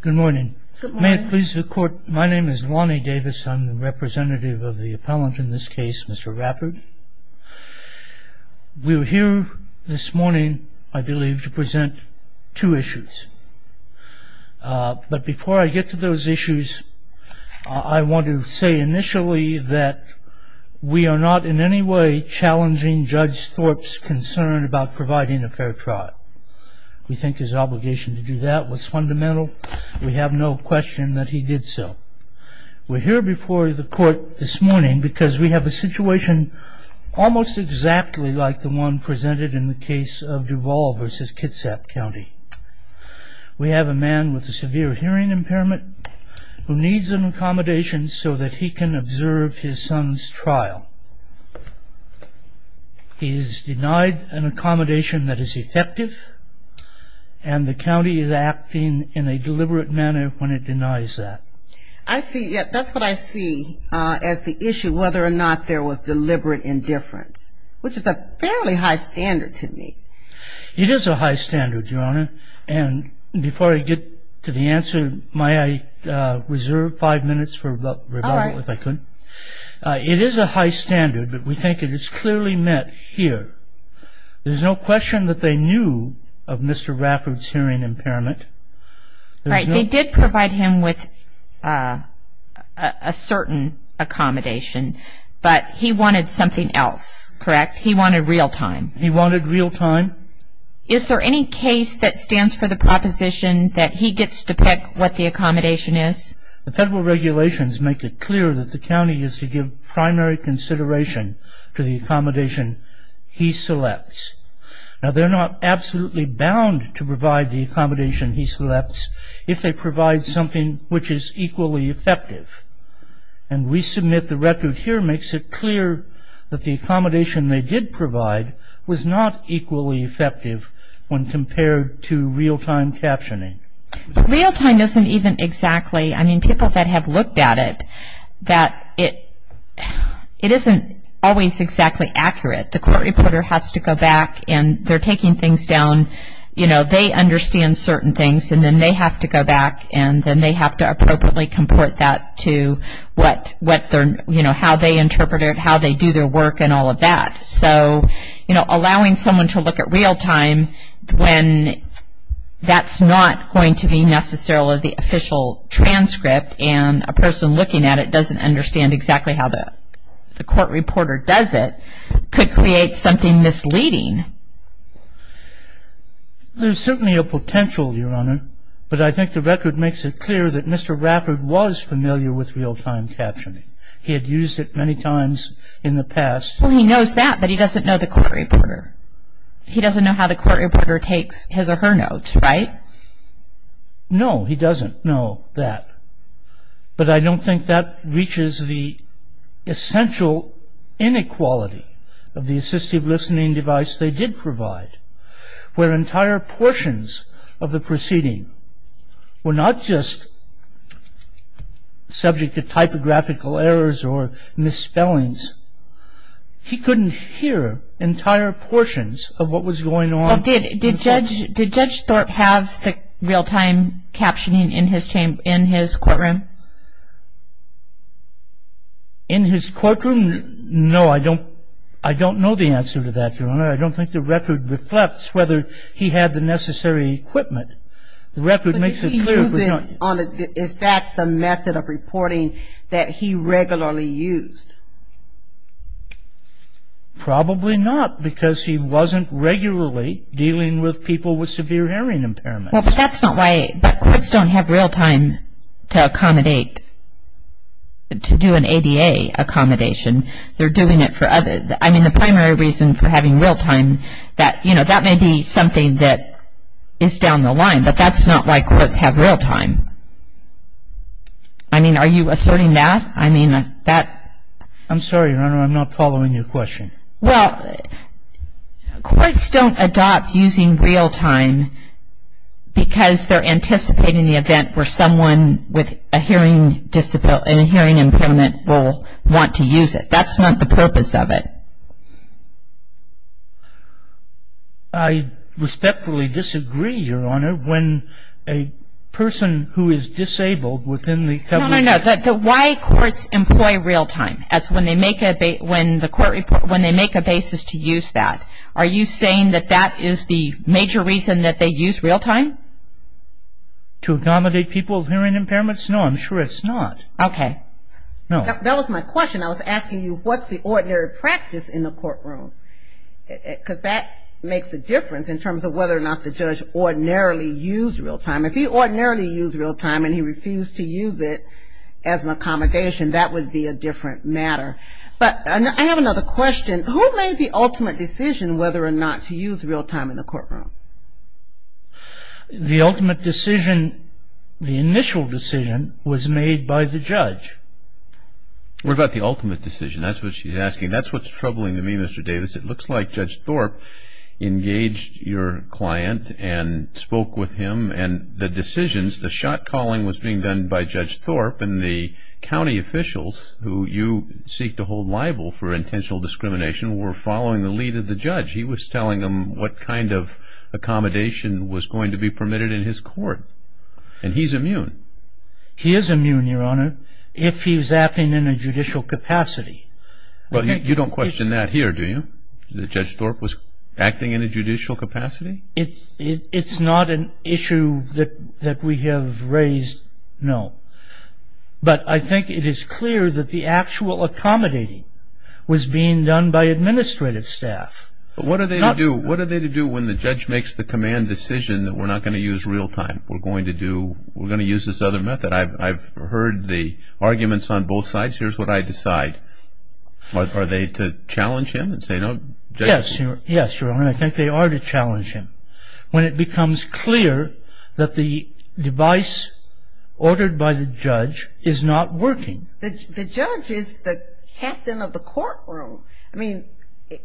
Good morning. May it please the court my name is Lonnie Davis. I'm the representative of the appellant in this case. Mr. Rafford We were here this morning I believe to present two issues But before I get to those issues I Want to say initially that we are not in any way challenging judge Thorpe's concern about providing a fair trial We think his obligation to do that was fundamental we have no question that he did so We're here before the court this morning because we have a situation Almost exactly like the one presented in the case of Duvall versus Kitsap County We have a man with a severe hearing impairment who needs an accommodation so that he can observe his son's trial He is denied an accommodation that is effective and The county is acting in a deliberate manner when it denies that I see yeah, that's what I see as the issue whether or not there was deliberate indifference Which is a fairly high standard to me. It is a high standard your honor and before I get to the answer my reserve five minutes for If I couldn't It is a high standard, but we think it is clearly met here There's no question that they knew of mr. Rafford's hearing impairment Right they did provide him with a Certain Accommodation, but he wanted something else correct. He wanted real-time. He wanted real-time Is there any case that stands for the proposition that he gets to pick what the accommodation is the federal regulations? Make it clear that the county is to give primary consideration to the accommodation He selects now they're not absolutely bound to provide the accommodation he selects if they provide something which is equally effective and We submit the record here makes it clear that the accommodation they did provide was not equally effective When compared to real-time captioning real-time isn't even exactly I mean people that have looked at it that it It isn't always exactly accurate the court reporter has to go back, and they're taking things down You know they understand certain things and then they have to go back And then they have to appropriately comport that to what what they're you know how they interpret it How they do their work and all of that so you know allowing someone to look at real-time when That's not going to be necessarily the official Transcript and a person looking at it doesn't understand exactly how that the court reporter does it could create something misleading There's certainly a potential your honor, but I think the record makes it clear that mr. Rafford was familiar with real-time captioning he had used it many times in the past Well, he knows that but he doesn't know the court reporter He doesn't know how the court reporter takes his or her notes, right? No, he doesn't know that but I don't think that reaches the essential Inequality of the assistive listening device they did provide where entire portions of the proceeding were not just Subject to typographical errors or misspellings He couldn't hear entire portions of what was going on did did judge did judge Thorpe have? real-time Captioning in his chamber in his courtroom in His courtroom no, I don't I don't know the answer to that your honor I don't think the record reflects whether he had the necessary equipment the record makes it Is that the method of reporting that he regularly used? Probably not because he wasn't regularly dealing with people with severe hearing impairment That's not why courts don't have real-time to accommodate To do an ADA Accommodation they're doing it for other I mean the primary reason for having real-time that you know That may be something that is down the line, but that's not why courts have real-time. I Mean are you asserting that I mean that I'm sorry. I'm not following your question. Well Courts don't adopt using real-time Because they're anticipating the event where someone with a hearing disability and a hearing impairment will want to use it That's not the purpose of it. I Respectfully disagree your honor when a person who is disabled within the Why courts employ real-time as when they make a bait when the court report when they make a basis to use that Are you saying that that is the major reason that they use real-time? To accommodate people of hearing impairments no, I'm sure it's not okay. No that was my question I was asking you what's the ordinary practice in the courtroom? Because that makes a difference in terms of whether or not the judge Ordinarily use real-time if he ordinarily use real-time, and he refused to use it as an accommodation That would be a different matter But I have another question who made the ultimate decision whether or not to use real-time in the courtroom The ultimate decision the initial decision was made by the judge We're about the ultimate decision. That's what she's asking. That's what's troubling to me. Mr. Davis. It looks like judge Thorpe engaged your client and spoke with him and the decisions the shot-calling was being done by judge Thorpe and the To hold liable for intentional discrimination were following the lead of the judge. He was telling them what kind of Accommodation was going to be permitted in his court, and he's immune He is immune your honor if he was acting in a judicial capacity Well, you don't question that here. Do you the judge Thorpe was acting in a judicial capacity? It's it's not an issue that that we have raised no But I think it is clear that the actual accommodating was being done by administrative staff What do they do? What are they to do when the judge makes the command decision that we're not going to use real-time? We're going to do we're going to use this other method. I've heard the arguments on both sides. Here's what I decide What are they to challenge him and say no? Yes. Yes, your honor. I think they are to challenge him when it becomes clear that the device Ordered by the judge is not working. The judge is the captain of the courtroom. I mean,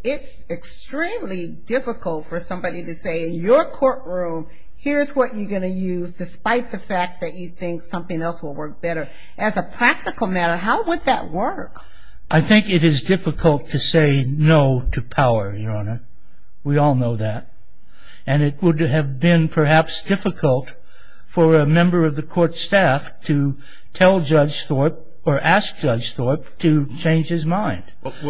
it's Extremely difficult for somebody to say in your courtroom Here's what you're going to use despite the fact that you think something else will work better as a practical matter How would that work? I think it is difficult to say no to power your honor We all know that and it would have been perhaps difficult For a member of the court staff to tell judge Thorpe or ask judge Thorpe to change his mind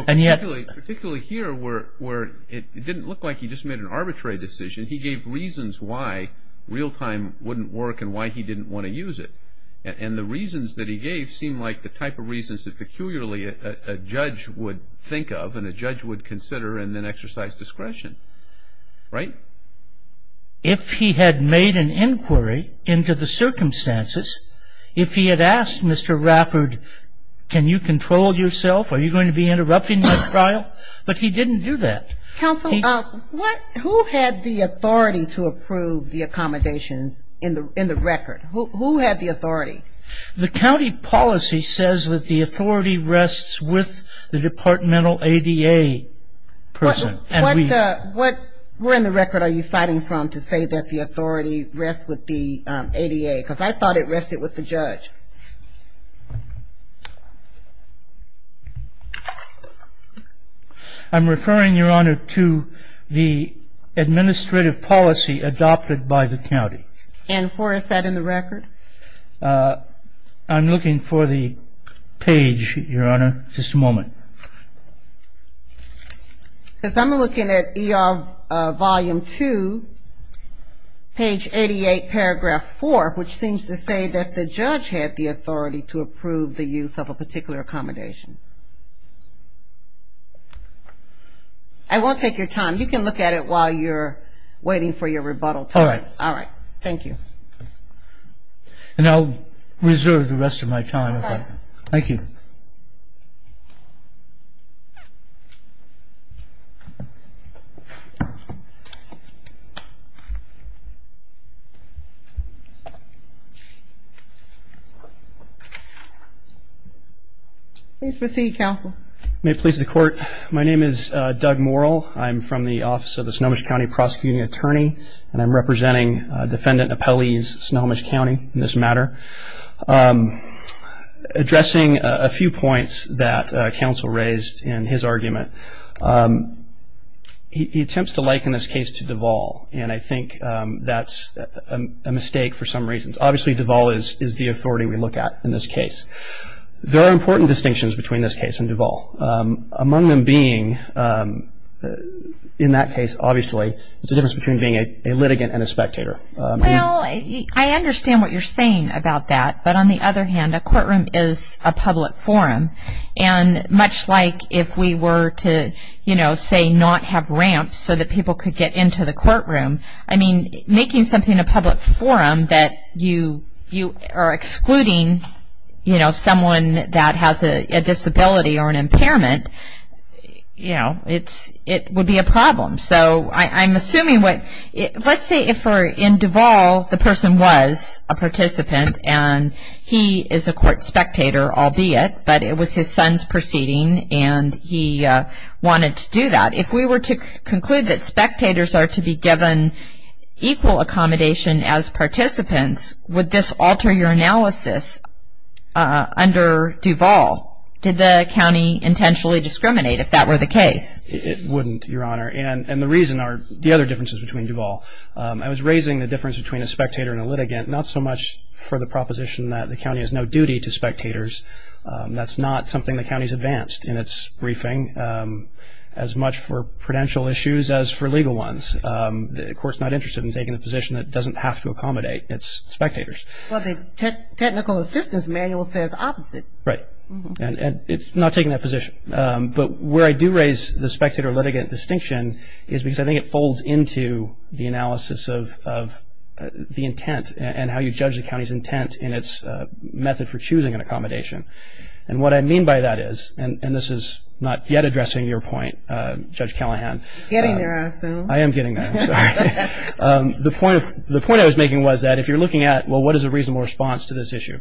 And yet particularly here were where it didn't look like he just made an arbitrary decision He gave reasons why real-time wouldn't work and why he didn't want to use it and the reasons that he gave seemed like the type of reasons that peculiarly a Would think of and a judge would consider and then exercise discretion right If he had made an inquiry into the circumstances if he had asked mr. Rafford Can you control yourself? Are you going to be interrupting this trial, but he didn't do that Who had the authority to approve the accommodations in the in the record who had the authority The county policy says that the authority rests with the departmental ADA person and what We're in the record. Are you citing from to say that the authority rests with the ADA because I thought it rested with the judge I'm referring your honor to the Administrative policy adopted by the county and for us that in the record I'm looking for the page your honor. Just a moment Because I'm looking at ER volume 2 Page 88 paragraph 4 which seems to say that the judge had the authority to approve the use of a particular accommodation. I Won't take your time. You can look at it while you're waiting for your rebuttal time. All right. Thank you And I'll reserve the rest of my time. Thank you Please proceed counsel may please the court. My name is Doug moral I'm from the office of the Snohomish County prosecuting attorney, and I'm representing Defendant appellees Snohomish County in this matter Addressing a few points that counsel raised in his argument He attempts to like in this case to Deval and I think that's a Mistake for some reasons obviously Deval is is the authority we look at in this case There are important distinctions between this case and Deval among them being In that case obviously it's a difference between being a litigant and a spectator well, I understand what you're saying about that, but on the other hand a courtroom is a public forum and Much like if we were to you know say not have ramps so that people could get into the courtroom I mean making something a public forum that you you are excluding You know someone that has a disability or an impairment You know, it's it would be a problem so I'm assuming what it let's say if we're in Deval the person was a participant and He is a court spectator. I'll be it but it was his son's proceeding and he Wanted to do that if we were to conclude that spectators are to be given Equal accommodation as participants would this alter your analysis? Under Deval did the county intentionally discriminate if that were the case It wouldn't your honor and and the reason are the other differences between Deval I was raising the difference between a spectator and a litigant not so much for the proposition that the county has no duty to spectators That's not something the county's advanced in its briefing as much for prudential issues as for legal ones The courts not interested in taking the position that doesn't have to accommodate its spectators Technical assistance manual says opposite right and it's not taking that position but where I do raise the spectator litigant distinction is because I think it folds into the analysis of the intent and how you judge the county's intent in its Method for choosing an accommodation and what I mean by that is and and this is not yet addressing your point judge Callahan I am getting The point of the point I was making was that if you're looking at well, what is a reasonable response to this issue?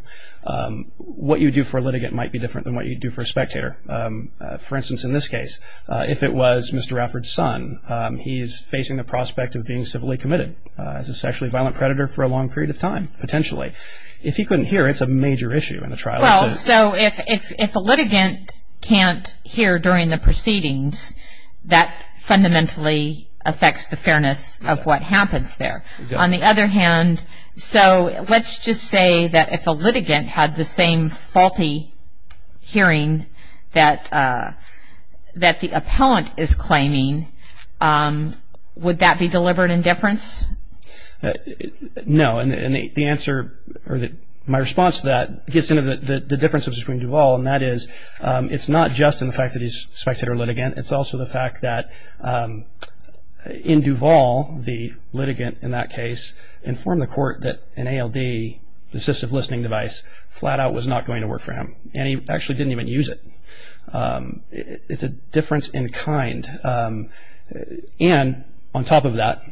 What you do for a litigant might be different than what you do for a spectator For instance in this case if it was mr. Efford son He's facing the prospect of being civilly committed as a sexually violent predator for a long period of time Potentially if he couldn't hear it's a major issue in the trial so if if a litigant can't hear during the proceedings that Fundamentally affects the fairness of what happens there on the other hand So let's just say that if a litigant had the same faulty hearing that That the appellant is claiming Would that be deliberate indifference? No, and the answer or that my response to that gets into the differences between Duvall and that is It's not just in the fact that he's spectator litigant. It's also the fact that In Duvall the litigant in that case informed the court that an ALD Assistive listening device flat-out was not going to work for him, and he actually didn't even use it It's a difference in kind And on top of that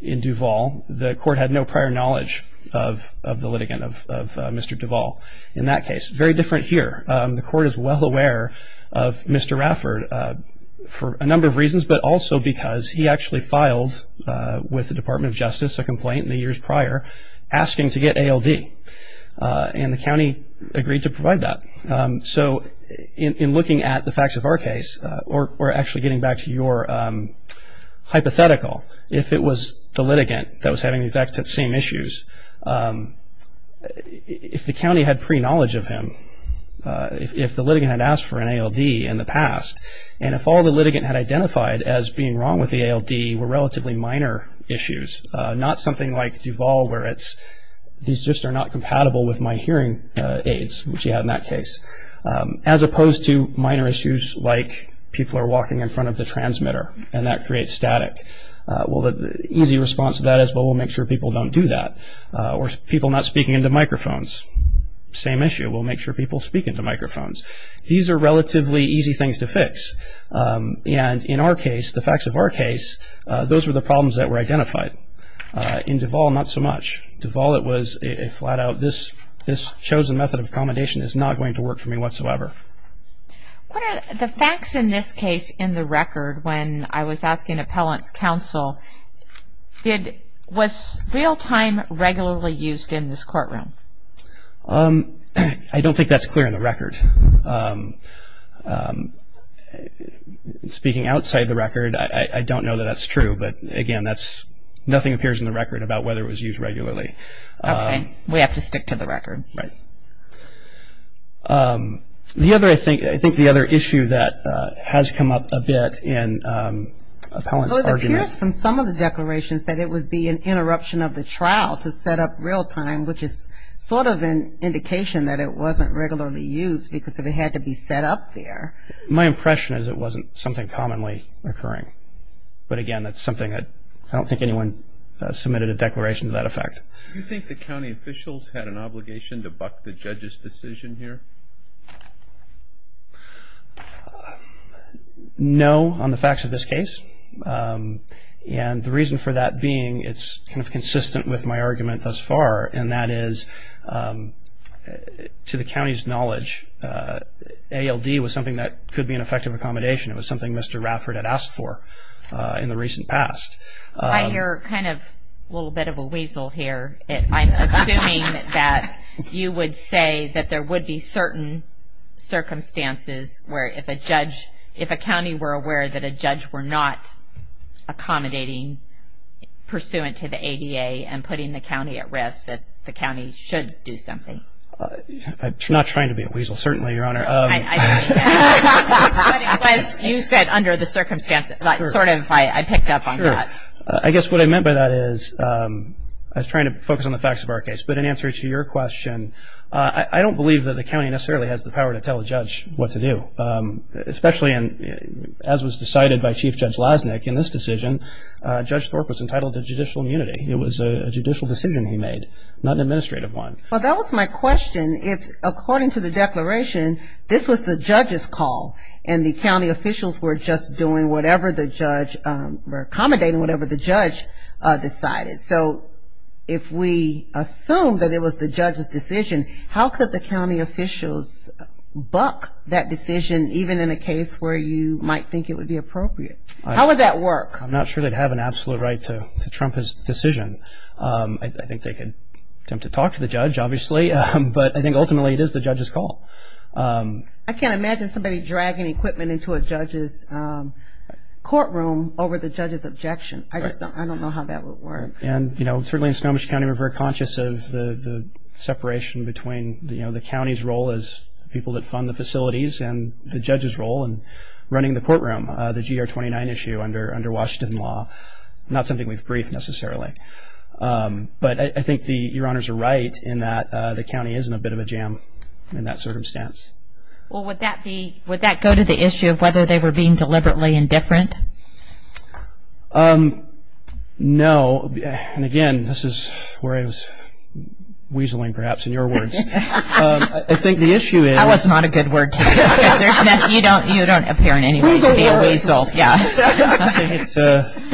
In Duvall the court had no prior knowledge of of the litigant of mr. Duvall in that case very different here. The court is well aware of Mr. Rafford For a number of reasons but also because he actually filed With the Department of Justice a complaint in the years prior asking to get ALD And the county agreed to provide that so in looking at the facts of our case or actually getting back to your Hypothetical if it was the litigant that was having the exact same issues If the county had pre knowledge of him If the litigant had asked for an ALD in the past and if all the litigant had identified as being wrong with the ALD were Relatively minor issues not something like Duvall where it's these just are not compatible with my hearing aids Which you have in that case as opposed to minor issues like people are walking in front of the transmitter and that creates static Well, the easy response to that is but we'll make sure people don't do that or people not speaking into microphones Same issue. We'll make sure people speak into microphones. These are relatively easy things to fix And in our case the facts of our case, those were the problems that were identified In Duvall, not so much Duvall. It was a flat-out this this chosen method of accommodation is not going to work for me whatsoever The facts in this case in the record when I was asking appellants counsel Did what's real-time regularly used in this courtroom? Um, I don't think that's clear in the record Speaking outside the record. I don't know that that's true. But again, that's nothing appears in the record about whether it was used regularly We have to stick to the record, right? The other I think I think the other issue that has come up a bit in Appellants arguments from some of the declarations that it would be an interruption of the trial to set up real-time Which is sort of an indication that it wasn't regularly used because if it had to be set up there My impression is it wasn't something commonly occurring. But again, that's something that I don't think anyone Submitted a declaration to that effect. You think the county officials had an obligation to buck the judge's decision here I Know on the facts of this case And the reason for that being it's kind of consistent with my argument thus far and that is To the county's knowledge ALD was something that could be an effective accommodation. It was something. Mr. Rafford had asked for in the recent past You're kind of a little bit of a weasel here That you would say that there would be certain Circumstances where if a judge if a county were aware that a judge were not accommodating Pursuant to the ADA and putting the county at risk that the county should do something Not trying to be a weasel. Certainly your honor You said under the circumstances I sort of I picked up on that I guess what I meant by that is I was trying to focus on the facts of our case, but in answer to your question I don't believe that the county necessarily has the power to tell a judge what to do Especially and as was decided by Chief Judge lasnik in this decision Judge Thorpe was entitled to judicial immunity. It was a judicial decision. He made not an administrative one Well, that was my question if according to the declaration This was the judge's call and the county officials were just doing whatever the judge were accommodating whatever the judge Decided so if we assume that it was the judge's decision, how could the county officials? Buck that decision even in a case where you might think it would be appropriate. How would that work? I'm not sure. They'd have an absolute right to Trump his decision I think they could attempt to talk to the judge obviously, but I think ultimately it is the judge's call I can't imagine somebody dragging equipment into a judge's Courtroom over the judge's objection. I just don't know how that would work. And you know, it's really in Snohomish County we're very conscious of the separation between the you know The county's role is people that fund the facilities and the judge's role and running the courtroom the gr-29 issue under under Washington law Not something we've briefed necessarily But I think the your honors are right in that the county isn't a bit of a jam in that circumstance Well, would that be would that go to the issue of whether they were being deliberately indifferent? um No, and again, this is where I was weaseling perhaps in your words, I think the issue is That was not a good word to use You don't appear in any way to be a weasel For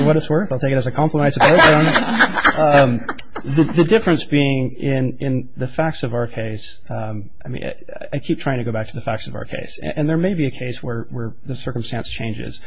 what it's worth, I'll take it as a compliment The difference being in in the facts of our case I mean, I keep trying to go back to the facts of our case and there may be a case where the circumstance changes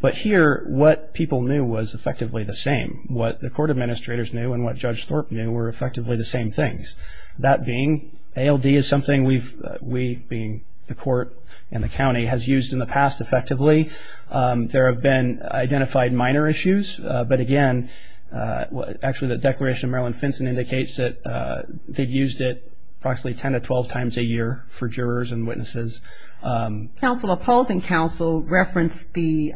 But here what people knew was effectively the same what the court administrators knew and what judge Thorpe knew were effectively the same things That being ALD is something we've we being the court and the county has used in the past effectively There have been identified minor issues. But again Actually, the Declaration of Maryland Finson indicates that they've used it approximately 10 to 12 times a year for jurors and witnesses Counsel opposing counsel referenced the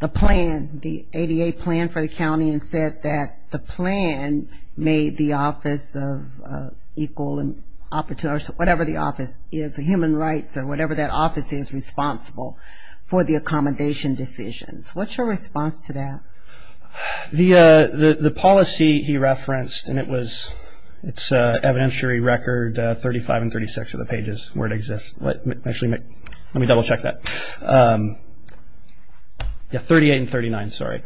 the plan the ADA plan for the county and said that the plan made the office of Equal and opportune or whatever. The office is a human rights or whatever that office is responsible for the accommodation decisions What's your response to that? The the the policy he referenced and it was it's evidentiary record 35 and 36 of the pages where it exists. Let me actually make let me double-check that Yeah, 38 and 39, sorry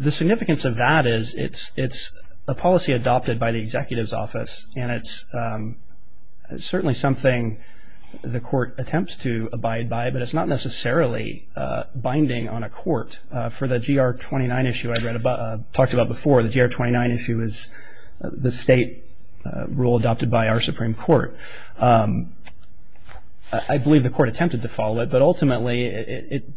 the significance of that is it's it's a policy adopted by the executive's office and it's Certainly something the court attempts to abide by but it's not necessarily Binding on a court for the gr-29 issue. I'd read about talked about before the gr-29 issue is the state Rule adopted by our Supreme Court. I Believe the court attempted to follow it, but ultimately it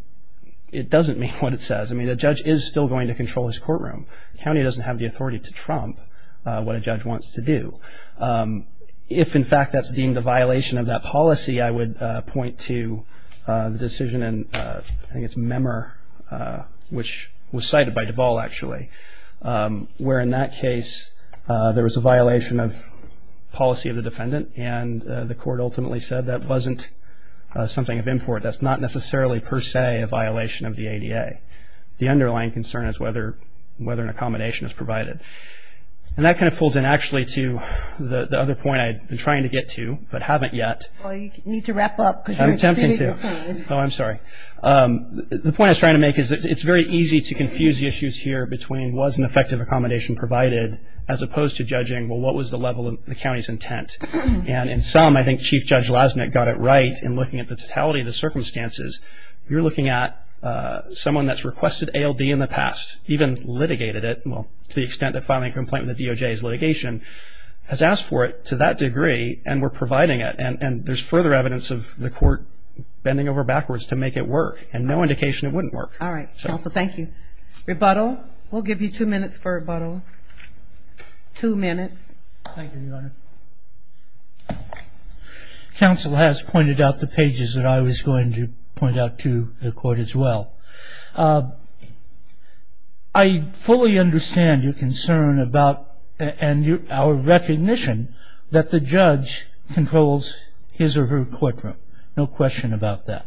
It doesn't mean what it says I mean a judge is still going to control his courtroom County doesn't have the authority to trump what a judge wants to do If in fact that's deemed a violation of that policy. I would point to The decision and I think it's a member Which was cited by Deval actually Where in that case there was a violation of policy of the defendant and the court ultimately said that wasn't Something of import that's not necessarily per se a violation of the ADA The underlying concern is whether whether an accommodation is provided And that kind of folds in actually to the the other point I've been trying to get to but haven't yet. Well, you need to wrap up because I'm tempted to oh, I'm sorry The point I was trying to make is it's very easy to confuse the issues here between was an effective accommodation provided as opposed to judging Well, what was the level of the county's intent? And in some I think chief judge lasnik got it right and looking at the totality of the circumstances. You're looking at Someone that's requested ALD in the past even litigated it Well to the extent that filing complaint in the DOJ is litigation Has asked for it to that degree and we're providing it and and there's further evidence of the court Bending over backwards to make it work and no indication. It wouldn't work. All right, so thank you Rebuttal we'll give you two minutes for a bottle two minutes Counsel has pointed out the pages that I was going to point out to the court as well. I Fully understand your concern about and you our recognition that the judge Controls his or her courtroom. No question about that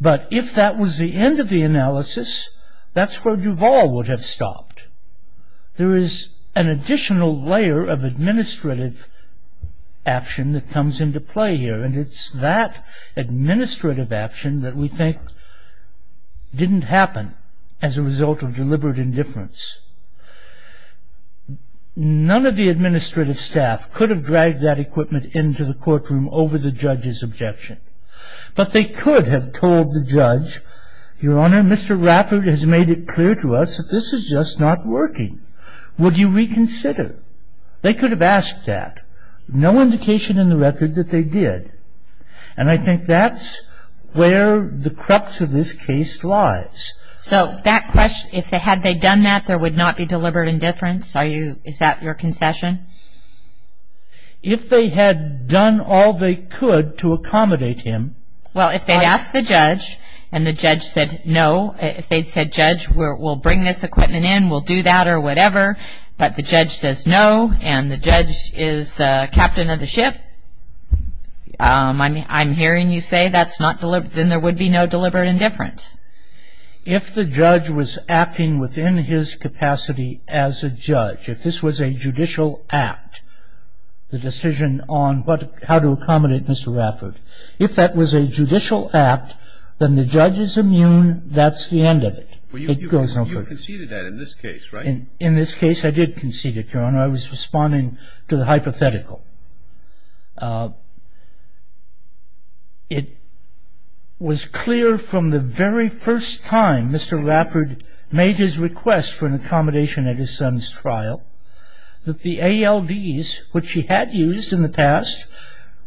But if that was the end of the analysis, that's where Duvall would have stopped There is an additional layer of administrative Action that comes into play here and it's that administrative action that we think Didn't happen as a result of deliberate indifference None of the administrative staff could have dragged that equipment into the courtroom over the judge's objection But they could have told the judge your honor. Mr. Rafferty has made it clear to us This is just not working. Would you reconsider they could have asked that no indication in the record that they did and I think that's where the crux of this case lies So that question if they had they done that there would not be deliberate indifference are you is that your concession If they had done all they could to accommodate him Well, if they'd asked the judge and the judge said no if they'd said judge where we'll bring this equipment in We'll do that or whatever, but the judge says no and the judge is the captain of the ship I mean I'm hearing you say that's not delivered. Then there would be no deliberate indifference If the judge was acting within his capacity as a judge if this was a judicial act The decision on but how to accommodate. Mr. Rafford if that was a judicial act, then the judge is immune That's the end of it. It goes on you conceded that in this case, right in this case. I did concede it Your honor. I was responding to the hypothetical It Was clear from the very first time. Mr. Rafford made his request for an accommodation at his son's trial That the ALDs which he had used in the past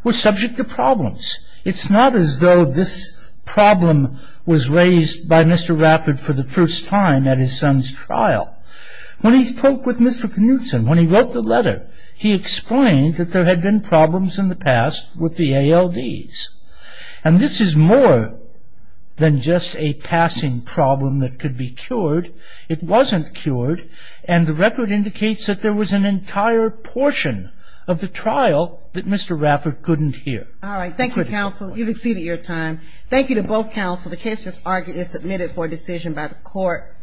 Was subject to problems. It's not as though this Problem was raised by mr. Rafford for the first time at his son's trial When he spoke with mr. Knutson when he wrote the letter He explained that there had been problems in the past with the ALDs And this is more Than just a passing problem that could be cured It wasn't cured and the record indicates that there was an entire portion of the trial that mr Rafford couldn't hear. All right. Thank you counsel. You've exceeded your time. Thank you to both counsel The case just argued is submitted for decision by the court